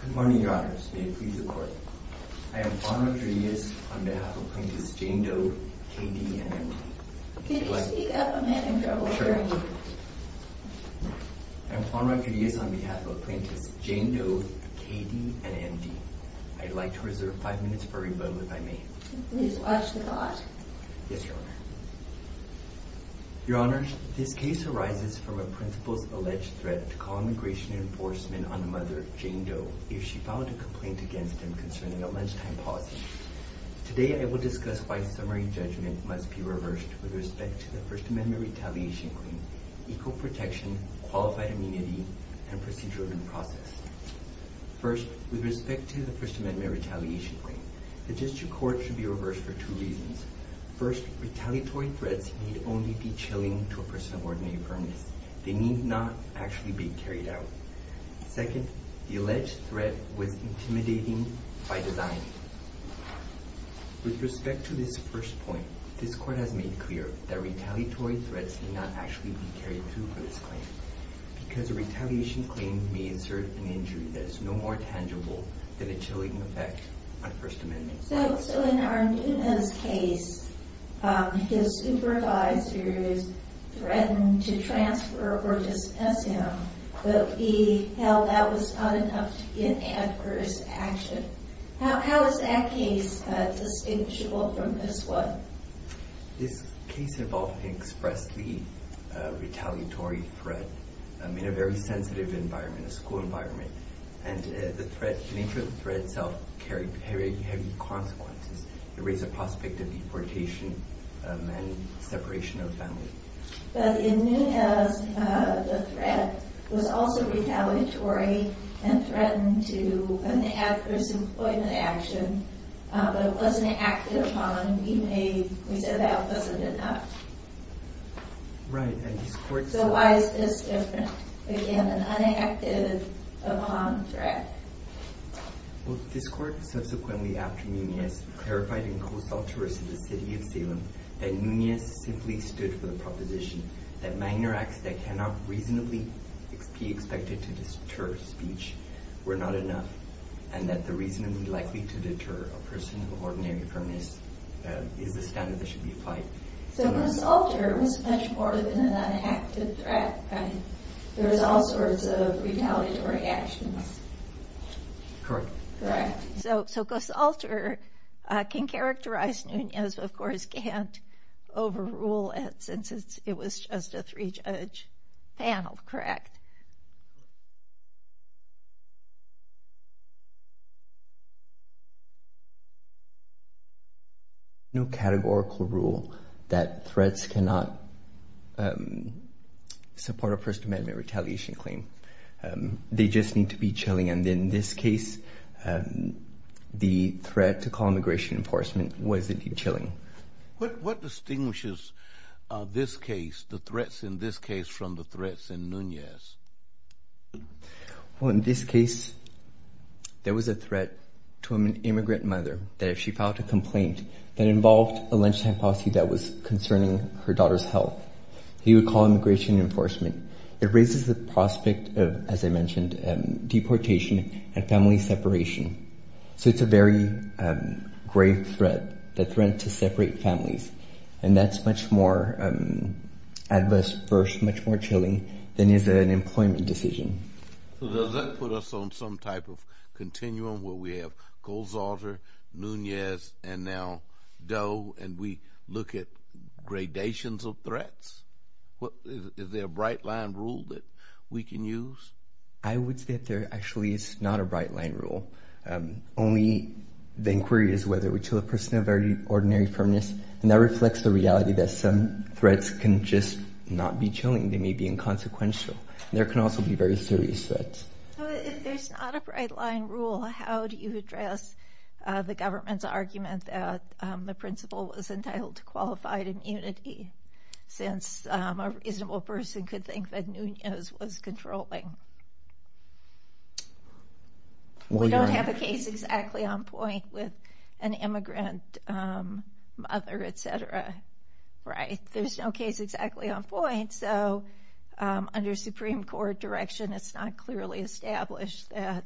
Good morning, Your Honours. May it please the Court. I am Juan Rodriguez on behalf of Apprentice Jane Doe, K.D. and M.D. Could you speak up? I'm having trouble hearing you. I am Juan Rodriguez on behalf of Apprentice Jane Doe, K.D. and M.D. I'd like to reserve five minutes for rebuttal, if I may. Please watch the thought. Yes, Your Honour. Your Honours, this case arises from a principal's alleged threat to call immigration enforcement on Mother Jane Doe if she filed a complaint against him concerning a lunchtime pausing. Today, I will discuss why summary judgment must be reversed with respect to the First Amendment retaliation claim, equal protection, qualified immunity, and procedure and process. First, with respect to the First Amendment retaliation claim, the District Court should be reversed for two reasons. First, retaliatory threats need only be chilling to a person of ordinary firmness. They need not actually be carried out. Second, the alleged threat was intimidating by design. With respect to this first point, this Court has made clear that retaliatory threats may not actually be carried through for this claim because a retaliation claim may insert an injury that is no more tangible than a chilling effect on First Amendment rights. So in Arnuna's case, his supervisors threatened to transfer or dismiss him, but he held that was not enough to get adverse action. How is that case distinguishable from this one? This case involved an expressly retaliatory threat in a very sensitive environment, a school environment, and the nature of the threat itself carried heavy consequences. It raised the prospect of deportation and separation of family. But in Nunez, the threat was also retaliatory and threatened to have adverse employment action, but it wasn't acted upon. We said that wasn't enough. So why is this different? Again, an unacted upon threat? This Court subsequently, after Nunez, clarified and co-saw tourists to the City of Salem that Nunez simply stood for the proposition that minor acts that cannot reasonably be expected to deter speech were not enough, and that the reasonably likely to deter a person of ordinary firmness is the standard that should be applied. So co-salter was much more than an unacted threat, right? There was all sorts of retaliatory actions. Correct. So co-salter can characterize Nunez, but of course can't overrule it since it was just a three-judge panel, correct? No categorical rule that threats cannot support a First Amendment retaliation claim. They just need to be chilling, and in this case, the threat to call immigration enforcement was indeed chilling. What distinguishes this case, the threats in this case, from the threats in Nunez? Well, in this case, there was a threat to an immigrant mother that if she filed a complaint that involved a lunchtime policy that was concerning her daughter's health, he would call immigration enforcement. It raises the prospect of, as I mentioned, deportation and family separation. So it's a very grave threat, the threat to separate families, and that's much more adverse first, much more chilling than is an employment decision. So does that put us on some type of continuum where we have co-salter, Nunez, and now Doe, and we look at gradations of threats? Is there a bright-line rule that we can use? I would say that there actually is not a bright-line rule. Only the inquiry is whether we chill a person of ordinary firmness, and that reflects the reality that some threats can just not be chilling. They may be inconsequential. There can also be very serious threats. If there's not a bright-line rule, how do you address the government's argument that the principal was entitled to qualified immunity since a reasonable person could think that Nunez was controlling? We don't have a case exactly on point with an immigrant mother, et cetera, right? There's no case exactly on point, so under Supreme Court direction, it's not clearly established that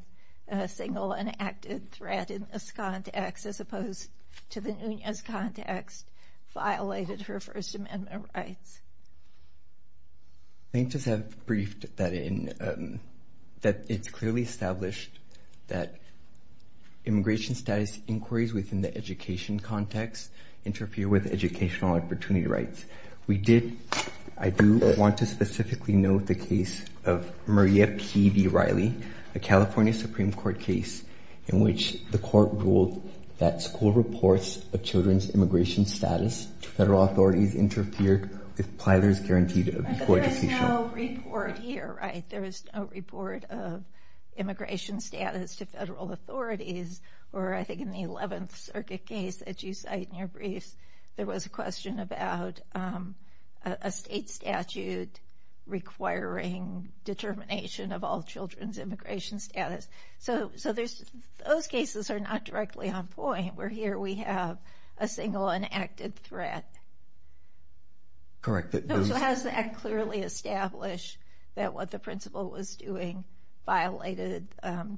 a single and active threat in this context, as opposed to the Nunez context, violated her First Amendment rights. Plaintiffs have briefed that it's clearly established that immigration status inquiries within the education context interfere with educational opportunity rights. I do want to specifically note the case of Maria P. V. Riley, a California Supreme Court case in which the court ruled that school reports of children's immigration status to federal authorities interfered with Plyler's Guaranteed Abuse Court Decision. But there is no report here, right? There is no report of immigration status to federal authorities, or I think in the 11th Circuit case that you cite in your briefs, there was a question about a state statute requiring determination of all children's immigration status. So those cases are not directly on point, where here we have a single and active threat. Correct. So has that clearly established that what the principal was doing violated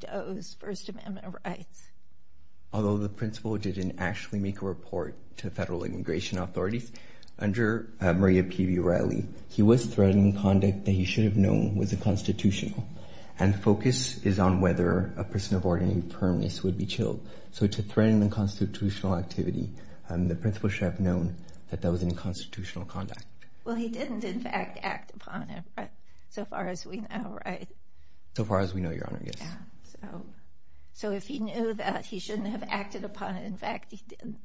Doe's First Amendment rights? Although the principal didn't actually make a report to federal immigration authorities, under Maria P. V. Riley, he was threatening conduct that he should have known was unconstitutional, and focus is on whether a person of ordinary firmness would be chilled. So to threaten unconstitutional activity, the principal should have known that that was unconstitutional conduct. Well, he didn't, in fact, act upon it so far as we know, right? So far as we know, Your Honor, yes. So if he knew that he shouldn't have acted upon it, in fact, he didn't,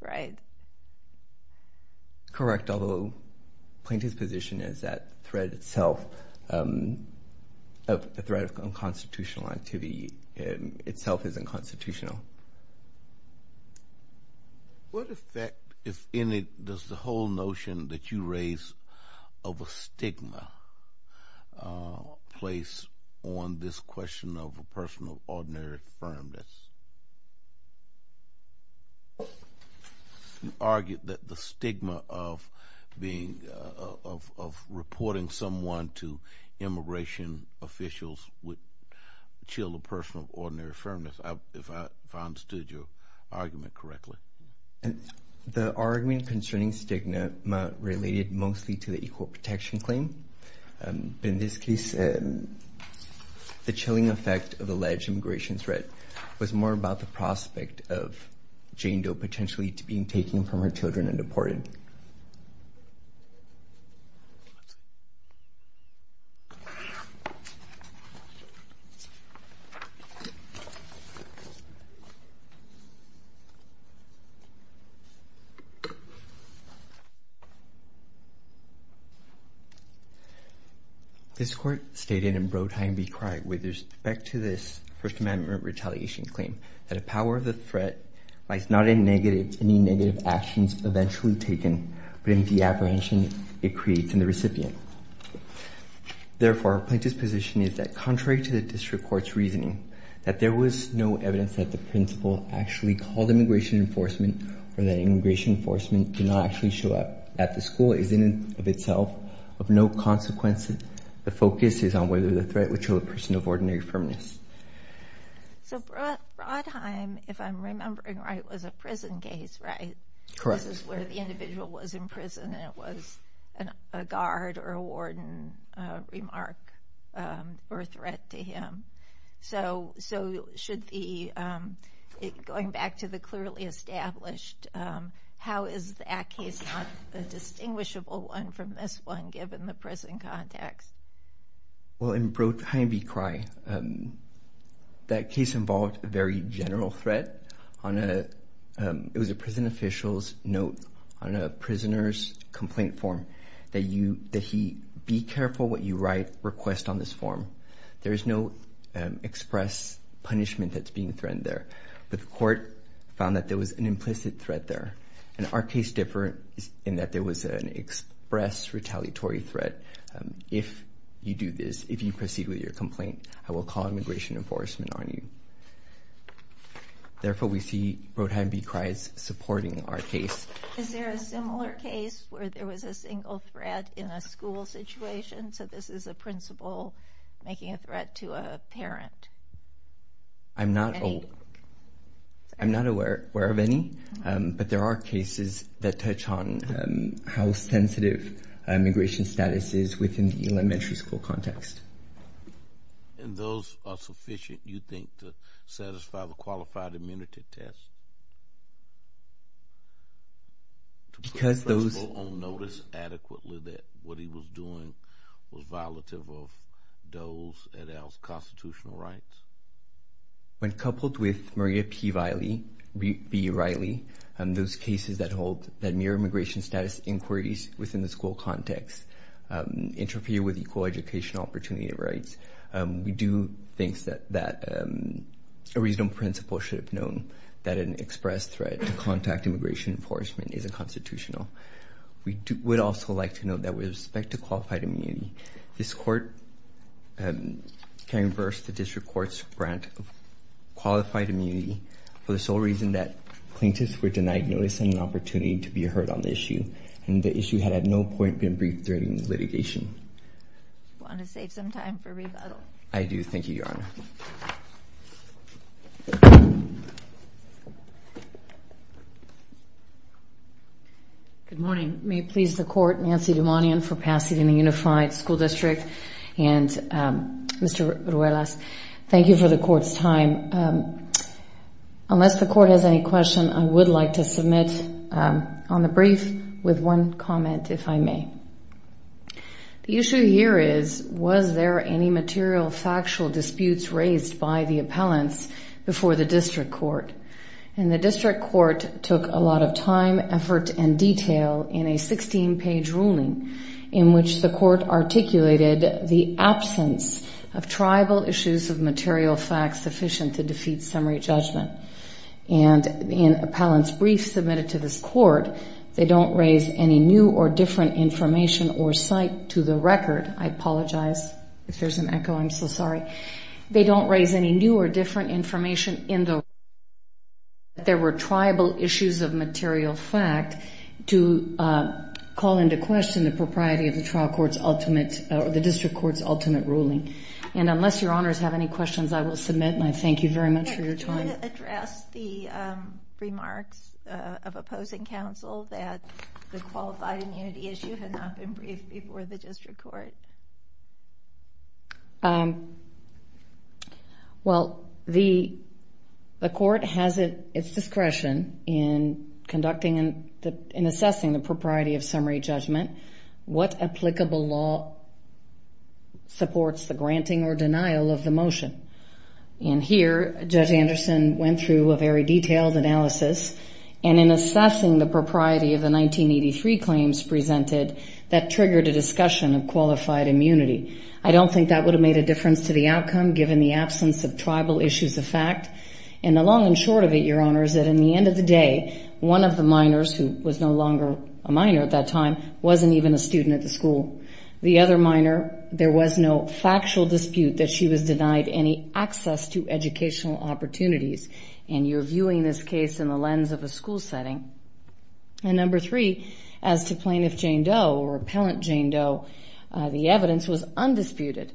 right? Correct. Although Plaintiff's position is that the threat of unconstitutional activity itself isn't constitutional. What effect, if any, does the whole notion that you raise of a stigma place on this question of a person of ordinary firmness? You argued that the stigma of reporting someone to immigration officials would chill a person of ordinary firmness, if I understood your argument correctly. The argument concerning stigma related mostly to the Equal Protection Claim. In this case, the chilling effect of alleged immigration threat was more about the prospect of Jane Doe potentially being taken from her children and deported. This Court stated in Brodheim v. Cry with respect to this First Amendment retaliation claim that a power of the threat lies not in negative, any negative actions eventually taken, but in the apprehension it creates in the recipient. Therefore, Plaintiff's position is that contrary to the District Court's reasoning, that there was no evidence that the principal actually called immigration enforcement or that immigration enforcement did not actually show up at the school is in and of itself of no consequence. The focus is on whether the threat would chill a person of ordinary firmness. So Brodheim, if I'm remembering right, was a prison case, right? Correct. This is where the individual was in prison and it was a guard or a warden remark or a threat to him. So going back to the clearly established, how is that case not a distinguishable one from this one given the prison context? Well, in Brodheim v. Cry, that case involved a very general threat. It was a prison official's note on a prisoner's complaint form that he, be careful what you write, request on this form. There is no express punishment that's being threatened there, but the court found that there was an implicit threat there. And our case differ in that there was an express retaliatory threat. If you do this, if you proceed with your complaint, I will call immigration enforcement on you. Therefore, we see Brodheim v. Cry supporting our case. Is there a similar case where there was a single threat in a school situation? So this is a principal making a threat to a parent? I'm not aware of any, but there are cases that touch on how sensitive immigration status is within the elementary school context. And those are sufficient, you think, to satisfy the qualified immunity test? To put the principal on notice adequately that what he was doing was violative of those constitutional rights? When coupled with Maria P. Riley, those cases that hold that mere immigration status inquiries within the school context interfere with equal educational opportunity rights, we do think that a reasonable principal should have known that an express threat to contact immigration enforcement is unconstitutional. We would also like to note that with respect to qualified immunity, this court can reverse the district court's grant of qualified immunity for the sole reason that plaintiffs were denied notice and an opportunity to be heard on the issue, and the issue had at no point been briefed during the litigation. Do you want to save some time for rebuttal? I do. Thank you, Your Honor. Good morning. May it please the Court, Nancy Dumanian for Pasadena Unified School District, and Mr. Ruelas, thank you for the Court's time. Unless the Court has any questions, I would like to submit on the brief with one comment, if I may. The issue here is, was there any material factual disputes raised by the appellants before the district court? And the district court took a lot of time, effort, and detail in a 16-page ruling in which the court articulated the absence of tribal issues of material facts sufficient to defeat summary judgment. And in appellant's brief submitted to this Court, they don't raise any new or different information or cite to the record. I apologize if there's an echo. I'm so sorry. They don't raise any new or different information in the record that there were tribal issues of material fact to call into question the propriety of the district court's ultimate ruling. And unless Your Honors have any questions, I will submit and I thank you very much for your time. Can you address the remarks of opposing counsel that the qualified immunity issue had not been briefed before the district court? Well, the court has its discretion in conducting and assessing the propriety of summary judgment. What applicable law supports the granting or denial of the motion? And here, Judge Anderson went through a very detailed analysis. And in assessing the propriety of the 1983 claims presented, that triggered a discussion of qualified immunity. I don't think that would have made a difference to the outcome given the absence of tribal issues of fact. And the long and short of it, Your Honors, is that in the end of the day, one of the minors who was no longer a minor at that time wasn't even a student at the school. The other minor, there was no factual dispute that she was denied any access to educational opportunities. And you're viewing this case in the lens of a school setting. And number three, as to Plaintiff Jane Doe or Appellant Jane Doe, the evidence was undisputed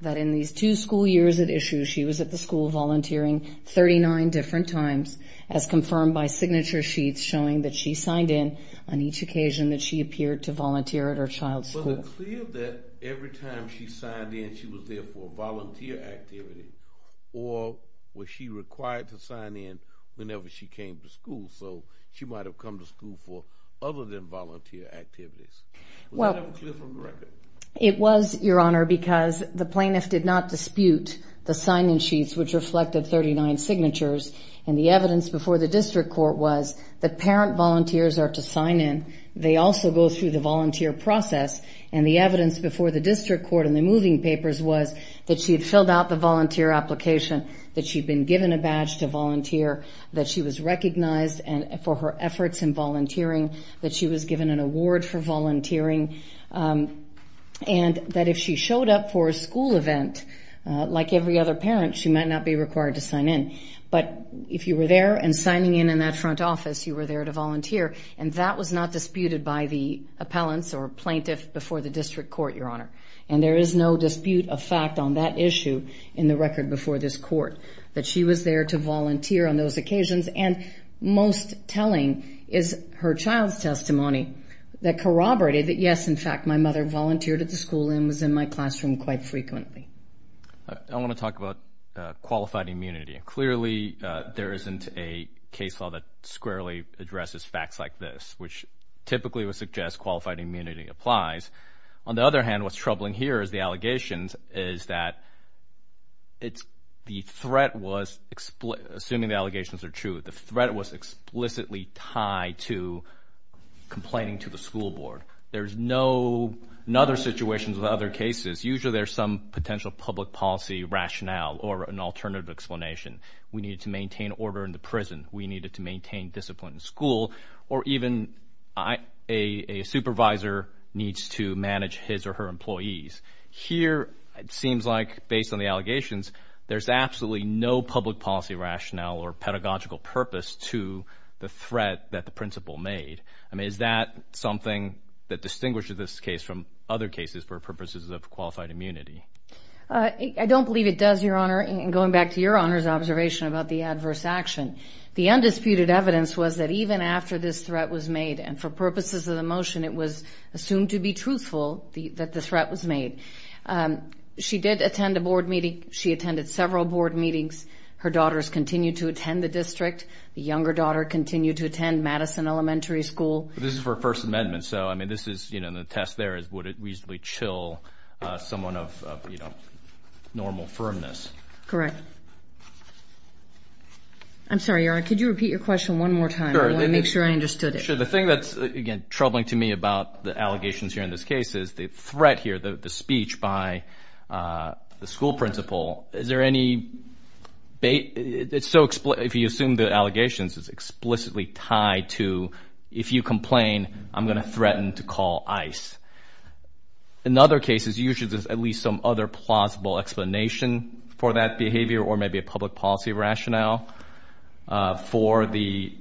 that in these two school years at issue, she was at the school volunteering 39 different times, as confirmed by signature sheets showing that she signed in on each occasion that she appeared to volunteer at her child's school. Was it clear that every time she signed in, she was there for a volunteer activity, or was she required to sign in whenever she came to school? So she might have come to school for other than volunteer activities. Was that clear from the record? It was, Your Honor, because the plaintiff did not dispute the sign-in sheets, which reflected 39 signatures. And the evidence before the district court was that parent volunteers are to sign in. They also go through the volunteer process. And the evidence before the district court in the moving papers was that she had filled out the volunteer application, that she had been given a badge to volunteer, that she was recognized for her efforts in volunteering, that she was given an award for volunteering, and that if she showed up for a school event, like every other parent, she might not be required to sign in. But if you were there and signing in in that front office, you were there to volunteer, and that was not disputed by the appellants or plaintiff before the district court, Your Honor. And there is no dispute of fact on that issue in the record before this court, that she was there to volunteer on those occasions. And most telling is her child's testimony that corroborated that, yes, in fact, my mother volunteered at the school and was in my classroom quite frequently. I want to talk about qualified immunity. Clearly there isn't a case law that squarely addresses facts like this, which typically would suggest qualified immunity applies. On the other hand, what's troubling here is the allegations, is that the threat was, assuming the allegations are true, the threat was explicitly tied to complaining to the school board. There's no other situations with other cases. Usually there's some potential public policy rationale or an alternative explanation. We needed to maintain order in the prison. We needed to maintain discipline in school. Or even a supervisor needs to manage his or her employees. Here it seems like, based on the allegations, there's absolutely no public policy rationale or pedagogical purpose to the threat that the principal made. I mean, is that something that distinguishes this case from other cases for purposes of qualified immunity? I don't believe it does, Your Honor. Going back to Your Honor's observation about the adverse action, the undisputed evidence was that even after this threat was made, and for purposes of the motion it was assumed to be truthful that the threat was made, she did attend a board meeting. She attended several board meetings. Her daughters continued to attend the district. The younger daughter continued to attend Madison Elementary School. This is for First Amendment, so, I mean, this is, you know, the test there is would it reasonably chill someone of, you know, normal firmness. Correct. I'm sorry, Your Honor, could you repeat your question one more time? Sure. I want to make sure I understood it. Sure. The thing that's, again, troubling to me about the allegations here in this case is the threat here, the speech by the school principal, is there any bait? If you assume the allegations, it's explicitly tied to if you complain, I'm going to threaten to call ICE. In other cases, usually there's at least some other plausible explanation for that behavior or maybe a public policy rationale for the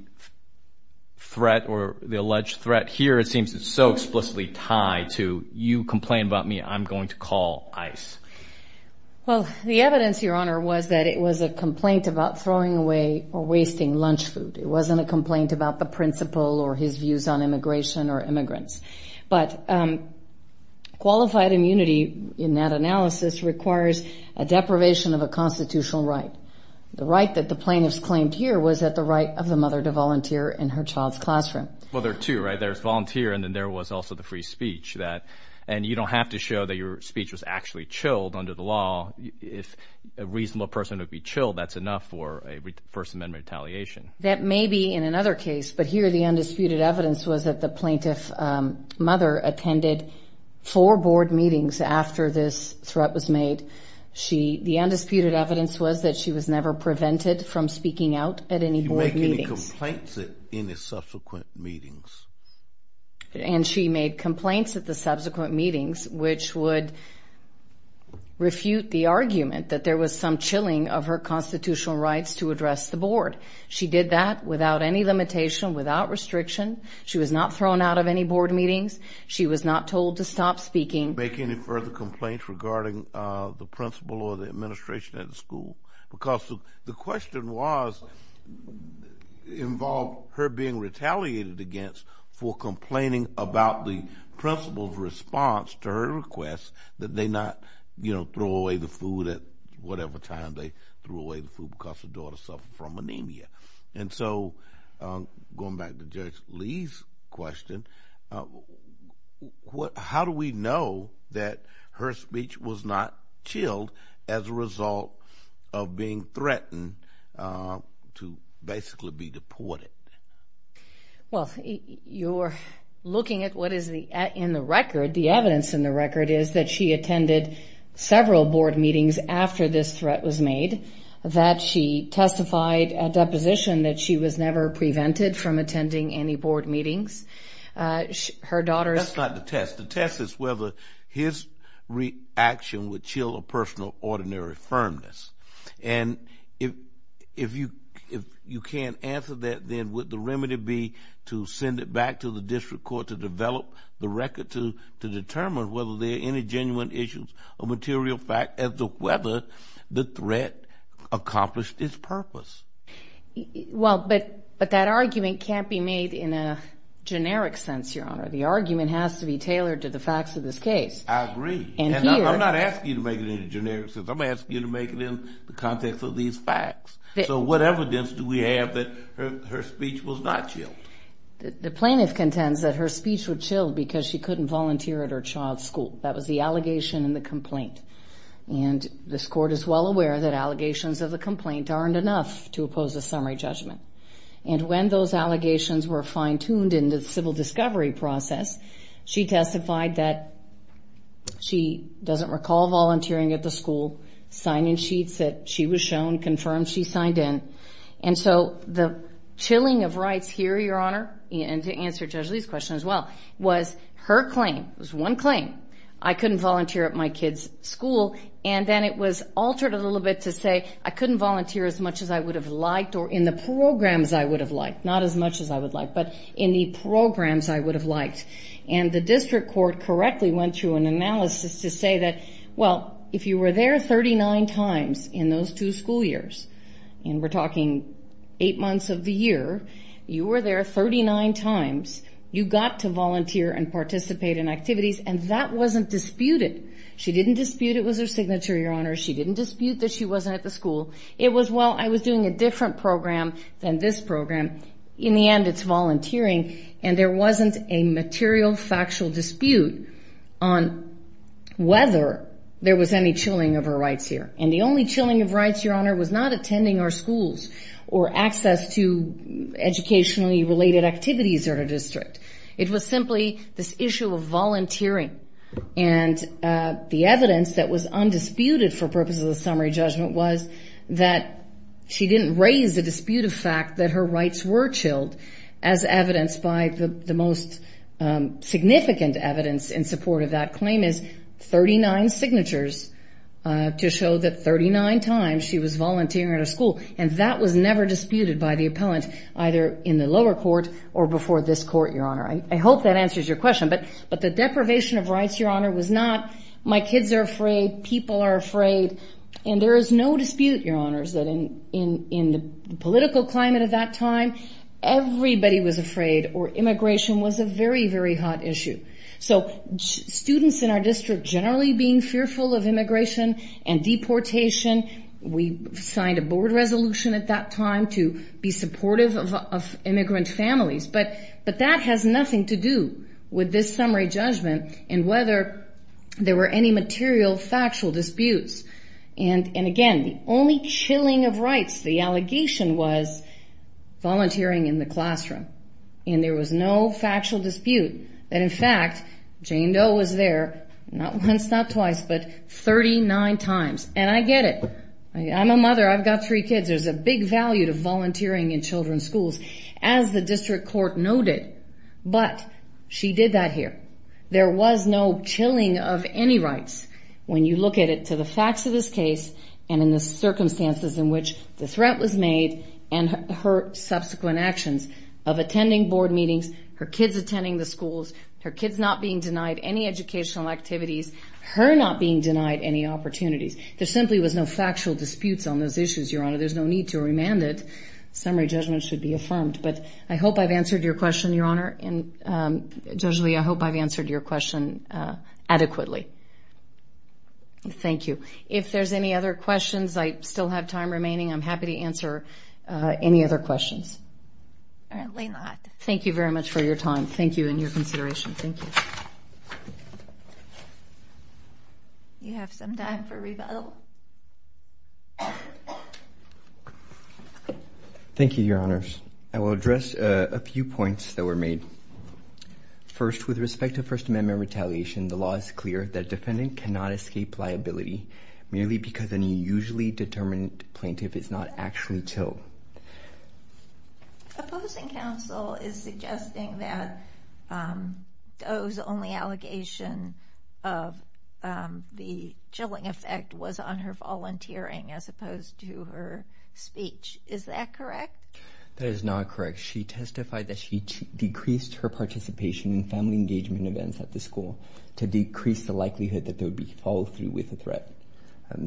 threat or the alleged threat. Here it seems it's so explicitly tied to you complain about me, I'm going to call ICE. Well, the evidence, Your Honor, was that it was a complaint about throwing away or wasting lunch food. It wasn't a complaint about the principal or his views on immigration or immigrants. But qualified immunity in that analysis requires a deprivation of a constitutional right. The right that the plaintiffs claimed here was that the right of the mother to volunteer in her child's classroom. Well, there are two, right? There's volunteer and then there was also the free speech. And you don't have to show that your speech was actually chilled under the law. If a reasonable person would be chilled, that's enough for a First Amendment retaliation. That may be in another case. But here the undisputed evidence was that the plaintiff mother attended four board meetings after this threat was made. The undisputed evidence was that she was never prevented from speaking out at any board meetings. You make any complaints at any subsequent meetings? And she made complaints at the subsequent meetings, which would refute the argument that there was some chilling of her constitutional rights to address the board. She did that without any limitation, without restriction. She was not thrown out of any board meetings. She was not told to stop speaking. You make any further complaints regarding the principal or the administration at the school? Because the question involved her being retaliated against for complaining about the principal's response to her request that they not throw away the food at whatever time they threw away the food because her daughter suffered from anemia. And so going back to Judge Lee's question, how do we know that her speech was not chilled as a result of being threatened to basically be deported? Well, you're looking at what is in the record. The evidence in the record is that she attended several board meetings after this threat was made, that she testified at deposition that she was never prevented from attending any board meetings. That's not the test. The test is whether his reaction would chill a person of ordinary firmness. And if you can't answer that, then would the remedy be to send it back to the district court to develop the record to determine whether there are any genuine issues of material fact as to whether the threat accomplished its purpose? Well, but that argument can't be made in a generic sense, Your Honor. The argument has to be tailored to the facts of this case. I agree. I'm not asking you to make it in a generic sense. I'm asking you to make it in the context of these facts. So what evidence do we have that her speech was not chilled? The plaintiff contends that her speech was chilled because she couldn't volunteer at her child's school. That was the allegation in the complaint. And this court is well aware that allegations of the complaint aren't enough to oppose a summary judgment. And when those allegations were fine-tuned in the civil discovery process, she testified that she doesn't recall volunteering at the school, sign-in sheets that she was shown confirmed she signed in. And so the chilling of rights here, Your Honor, and to answer Judge Lee's question as well, was her claim, was one claim, I couldn't volunteer at my kid's school, and then it was altered a little bit to say I couldn't volunteer as much as I would have liked or in the programs I would have liked, not as much as I would have liked, but in the programs I would have liked. And the district court correctly went through an analysis to say that, well, if you were there 39 times in those two school years, and we're talking eight months of the year, you were there 39 times, you got to volunteer and participate in activities, and that wasn't disputed. She didn't dispute it was her signature, Your Honor. She didn't dispute that she wasn't at the school. It was, well, I was doing a different program than this program. In the end, it's volunteering, and there wasn't a material, factual dispute on whether there was any chilling of her rights here. And the only chilling of rights, Your Honor, was not attending our schools or access to educationally-related activities at our district. It was simply this issue of volunteering, and the evidence that was undisputed for purposes of the summary judgment was that she didn't raise the dispute of fact that her rights were chilled as evidenced by the most significant evidence in support of that claim is 39 signatures to show that 39 times she was volunteering at her school, and that was never disputed by the appellant, either in the lower court or before this court, Your Honor. I hope that answers your question, but the deprivation of rights, Your Honor, was not my kids are afraid, people are afraid, and there is no dispute, Your Honors, that in the political climate of that time, everybody was afraid, or immigration was a very, very hot issue. So students in our district generally being fearful of immigration and deportation, we signed a board resolution at that time to be supportive of immigrant families, but that has nothing to do with this summary judgment and whether there were any material, factual disputes. And again, the only chilling of rights, the allegation was volunteering in the classroom, and there was no factual dispute that, in fact, Jane Doe was there not once, not twice, but 39 times. And I get it. I'm a mother. I've got three kids. There's a big value to volunteering in children's schools, as the district court noted, but she did that here. There was no chilling of any rights when you look at it to the facts of this case and in the circumstances in which the threat was made and her subsequent actions of attending board meetings, her kids attending the schools, her kids not being denied any educational activities, her not being denied any opportunities. There simply was no factual disputes on those issues, Your Honor. There's no need to remand it. Summary judgment should be affirmed. But I hope I've answered your question, Your Honor, and, Judge Leah, I hope I've answered your question adequately. Thank you. If there's any other questions, I still have time remaining. I'm happy to answer any other questions. Apparently not. Thank you very much for your time. Thank you and your consideration. Thank you. You have some time for rebuttal. Thank you, Your Honors. I will address a few points that were made. First, with respect to First Amendment retaliation, the law is clear that defendant cannot escape liability merely because an unusually determined plaintiff is not actually chill. Opposing counsel is suggesting that Doe's only allegation of the chilling effect was on her volunteering as opposed to her speech. Is that correct? That is not correct. She testified that she decreased her participation in family engagement events at the school to decrease the likelihood that there would be follow-through with the threat.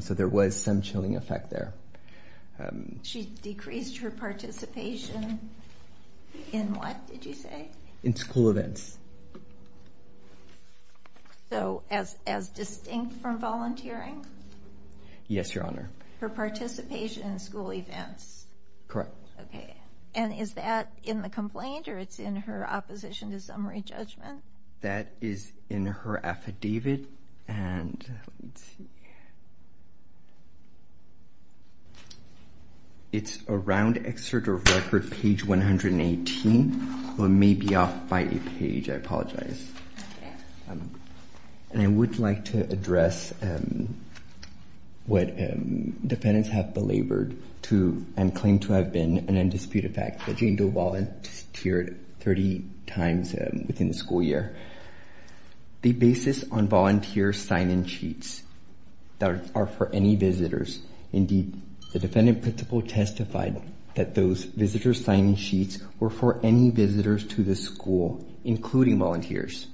So there was some chilling effect there. She decreased her participation in what, did you say? In school events. So as distinct from volunteering? Yes, Your Honor. Her participation in school events? Correct. Okay. And is that in the complaint or it's in her opposition to summary judgment? That is in her affidavit. And let's see. It's around Excerpt of Record, page 118. It may be off by a page. I apologize. Okay. And I would like to address what defendants have belabored to and claim to have been an undisputed fact that Jane Doe volunteered 30 times within the school year. The basis on volunteer sign-in sheets that are for any visitors. Indeed, the defendant principal testified that those visitor sign-in sheets were for any visitors to the school, including volunteers.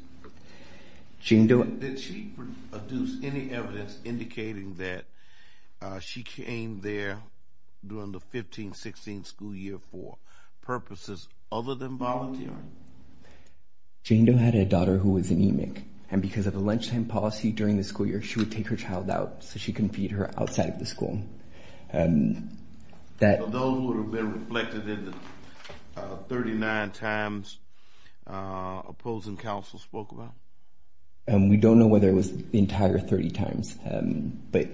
Did she produce any evidence indicating that she came there during the 15th, 16th school year for purposes other than volunteering? Jane Doe had a daughter who was anemic. And because of the lunchtime policy during the school year, she would take her child out so she couldn't feed her outside of the school. That would have been reflected in the 39 times opposing counsel spoke about? We don't know whether it was the entire 30 times, but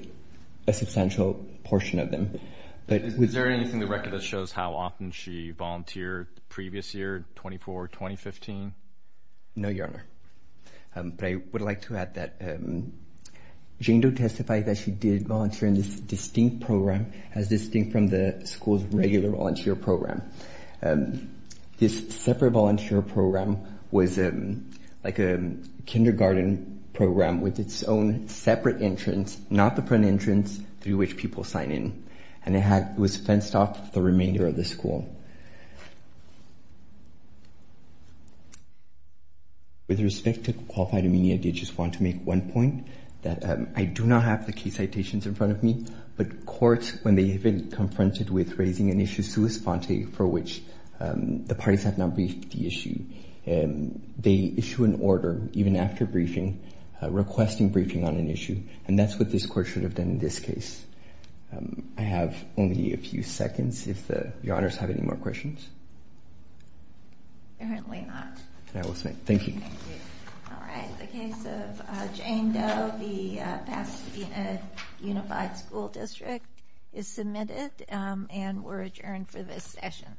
a substantial portion of them. Is there anything in the record that shows how often she volunteered the previous year, 24, 2015? No, Your Honor. But I would like to add that Jane Doe testified that she did volunteer in this distinct program as distinct from the school's regular volunteer program. This separate volunteer program was like a kindergarten program with its own separate entrance, not the front entrance through which people sign in. And it was fenced off the remainder of the school. With respect to qualified immediate digits, I want to make one point that I do not have the key citations in front of me, but courts, when they have been confronted with raising an issue sui sponte for which the parties have not briefed the issue, they issue an order even after briefing, requesting briefing on an issue. And that's what this court should have done in this case. I have only a few seconds. If the honors have any more questions. Apparently not. Thank you. All right. In the case of Jane Doe, the Pasadena Unified School District is submitted and we're adjourned for this session.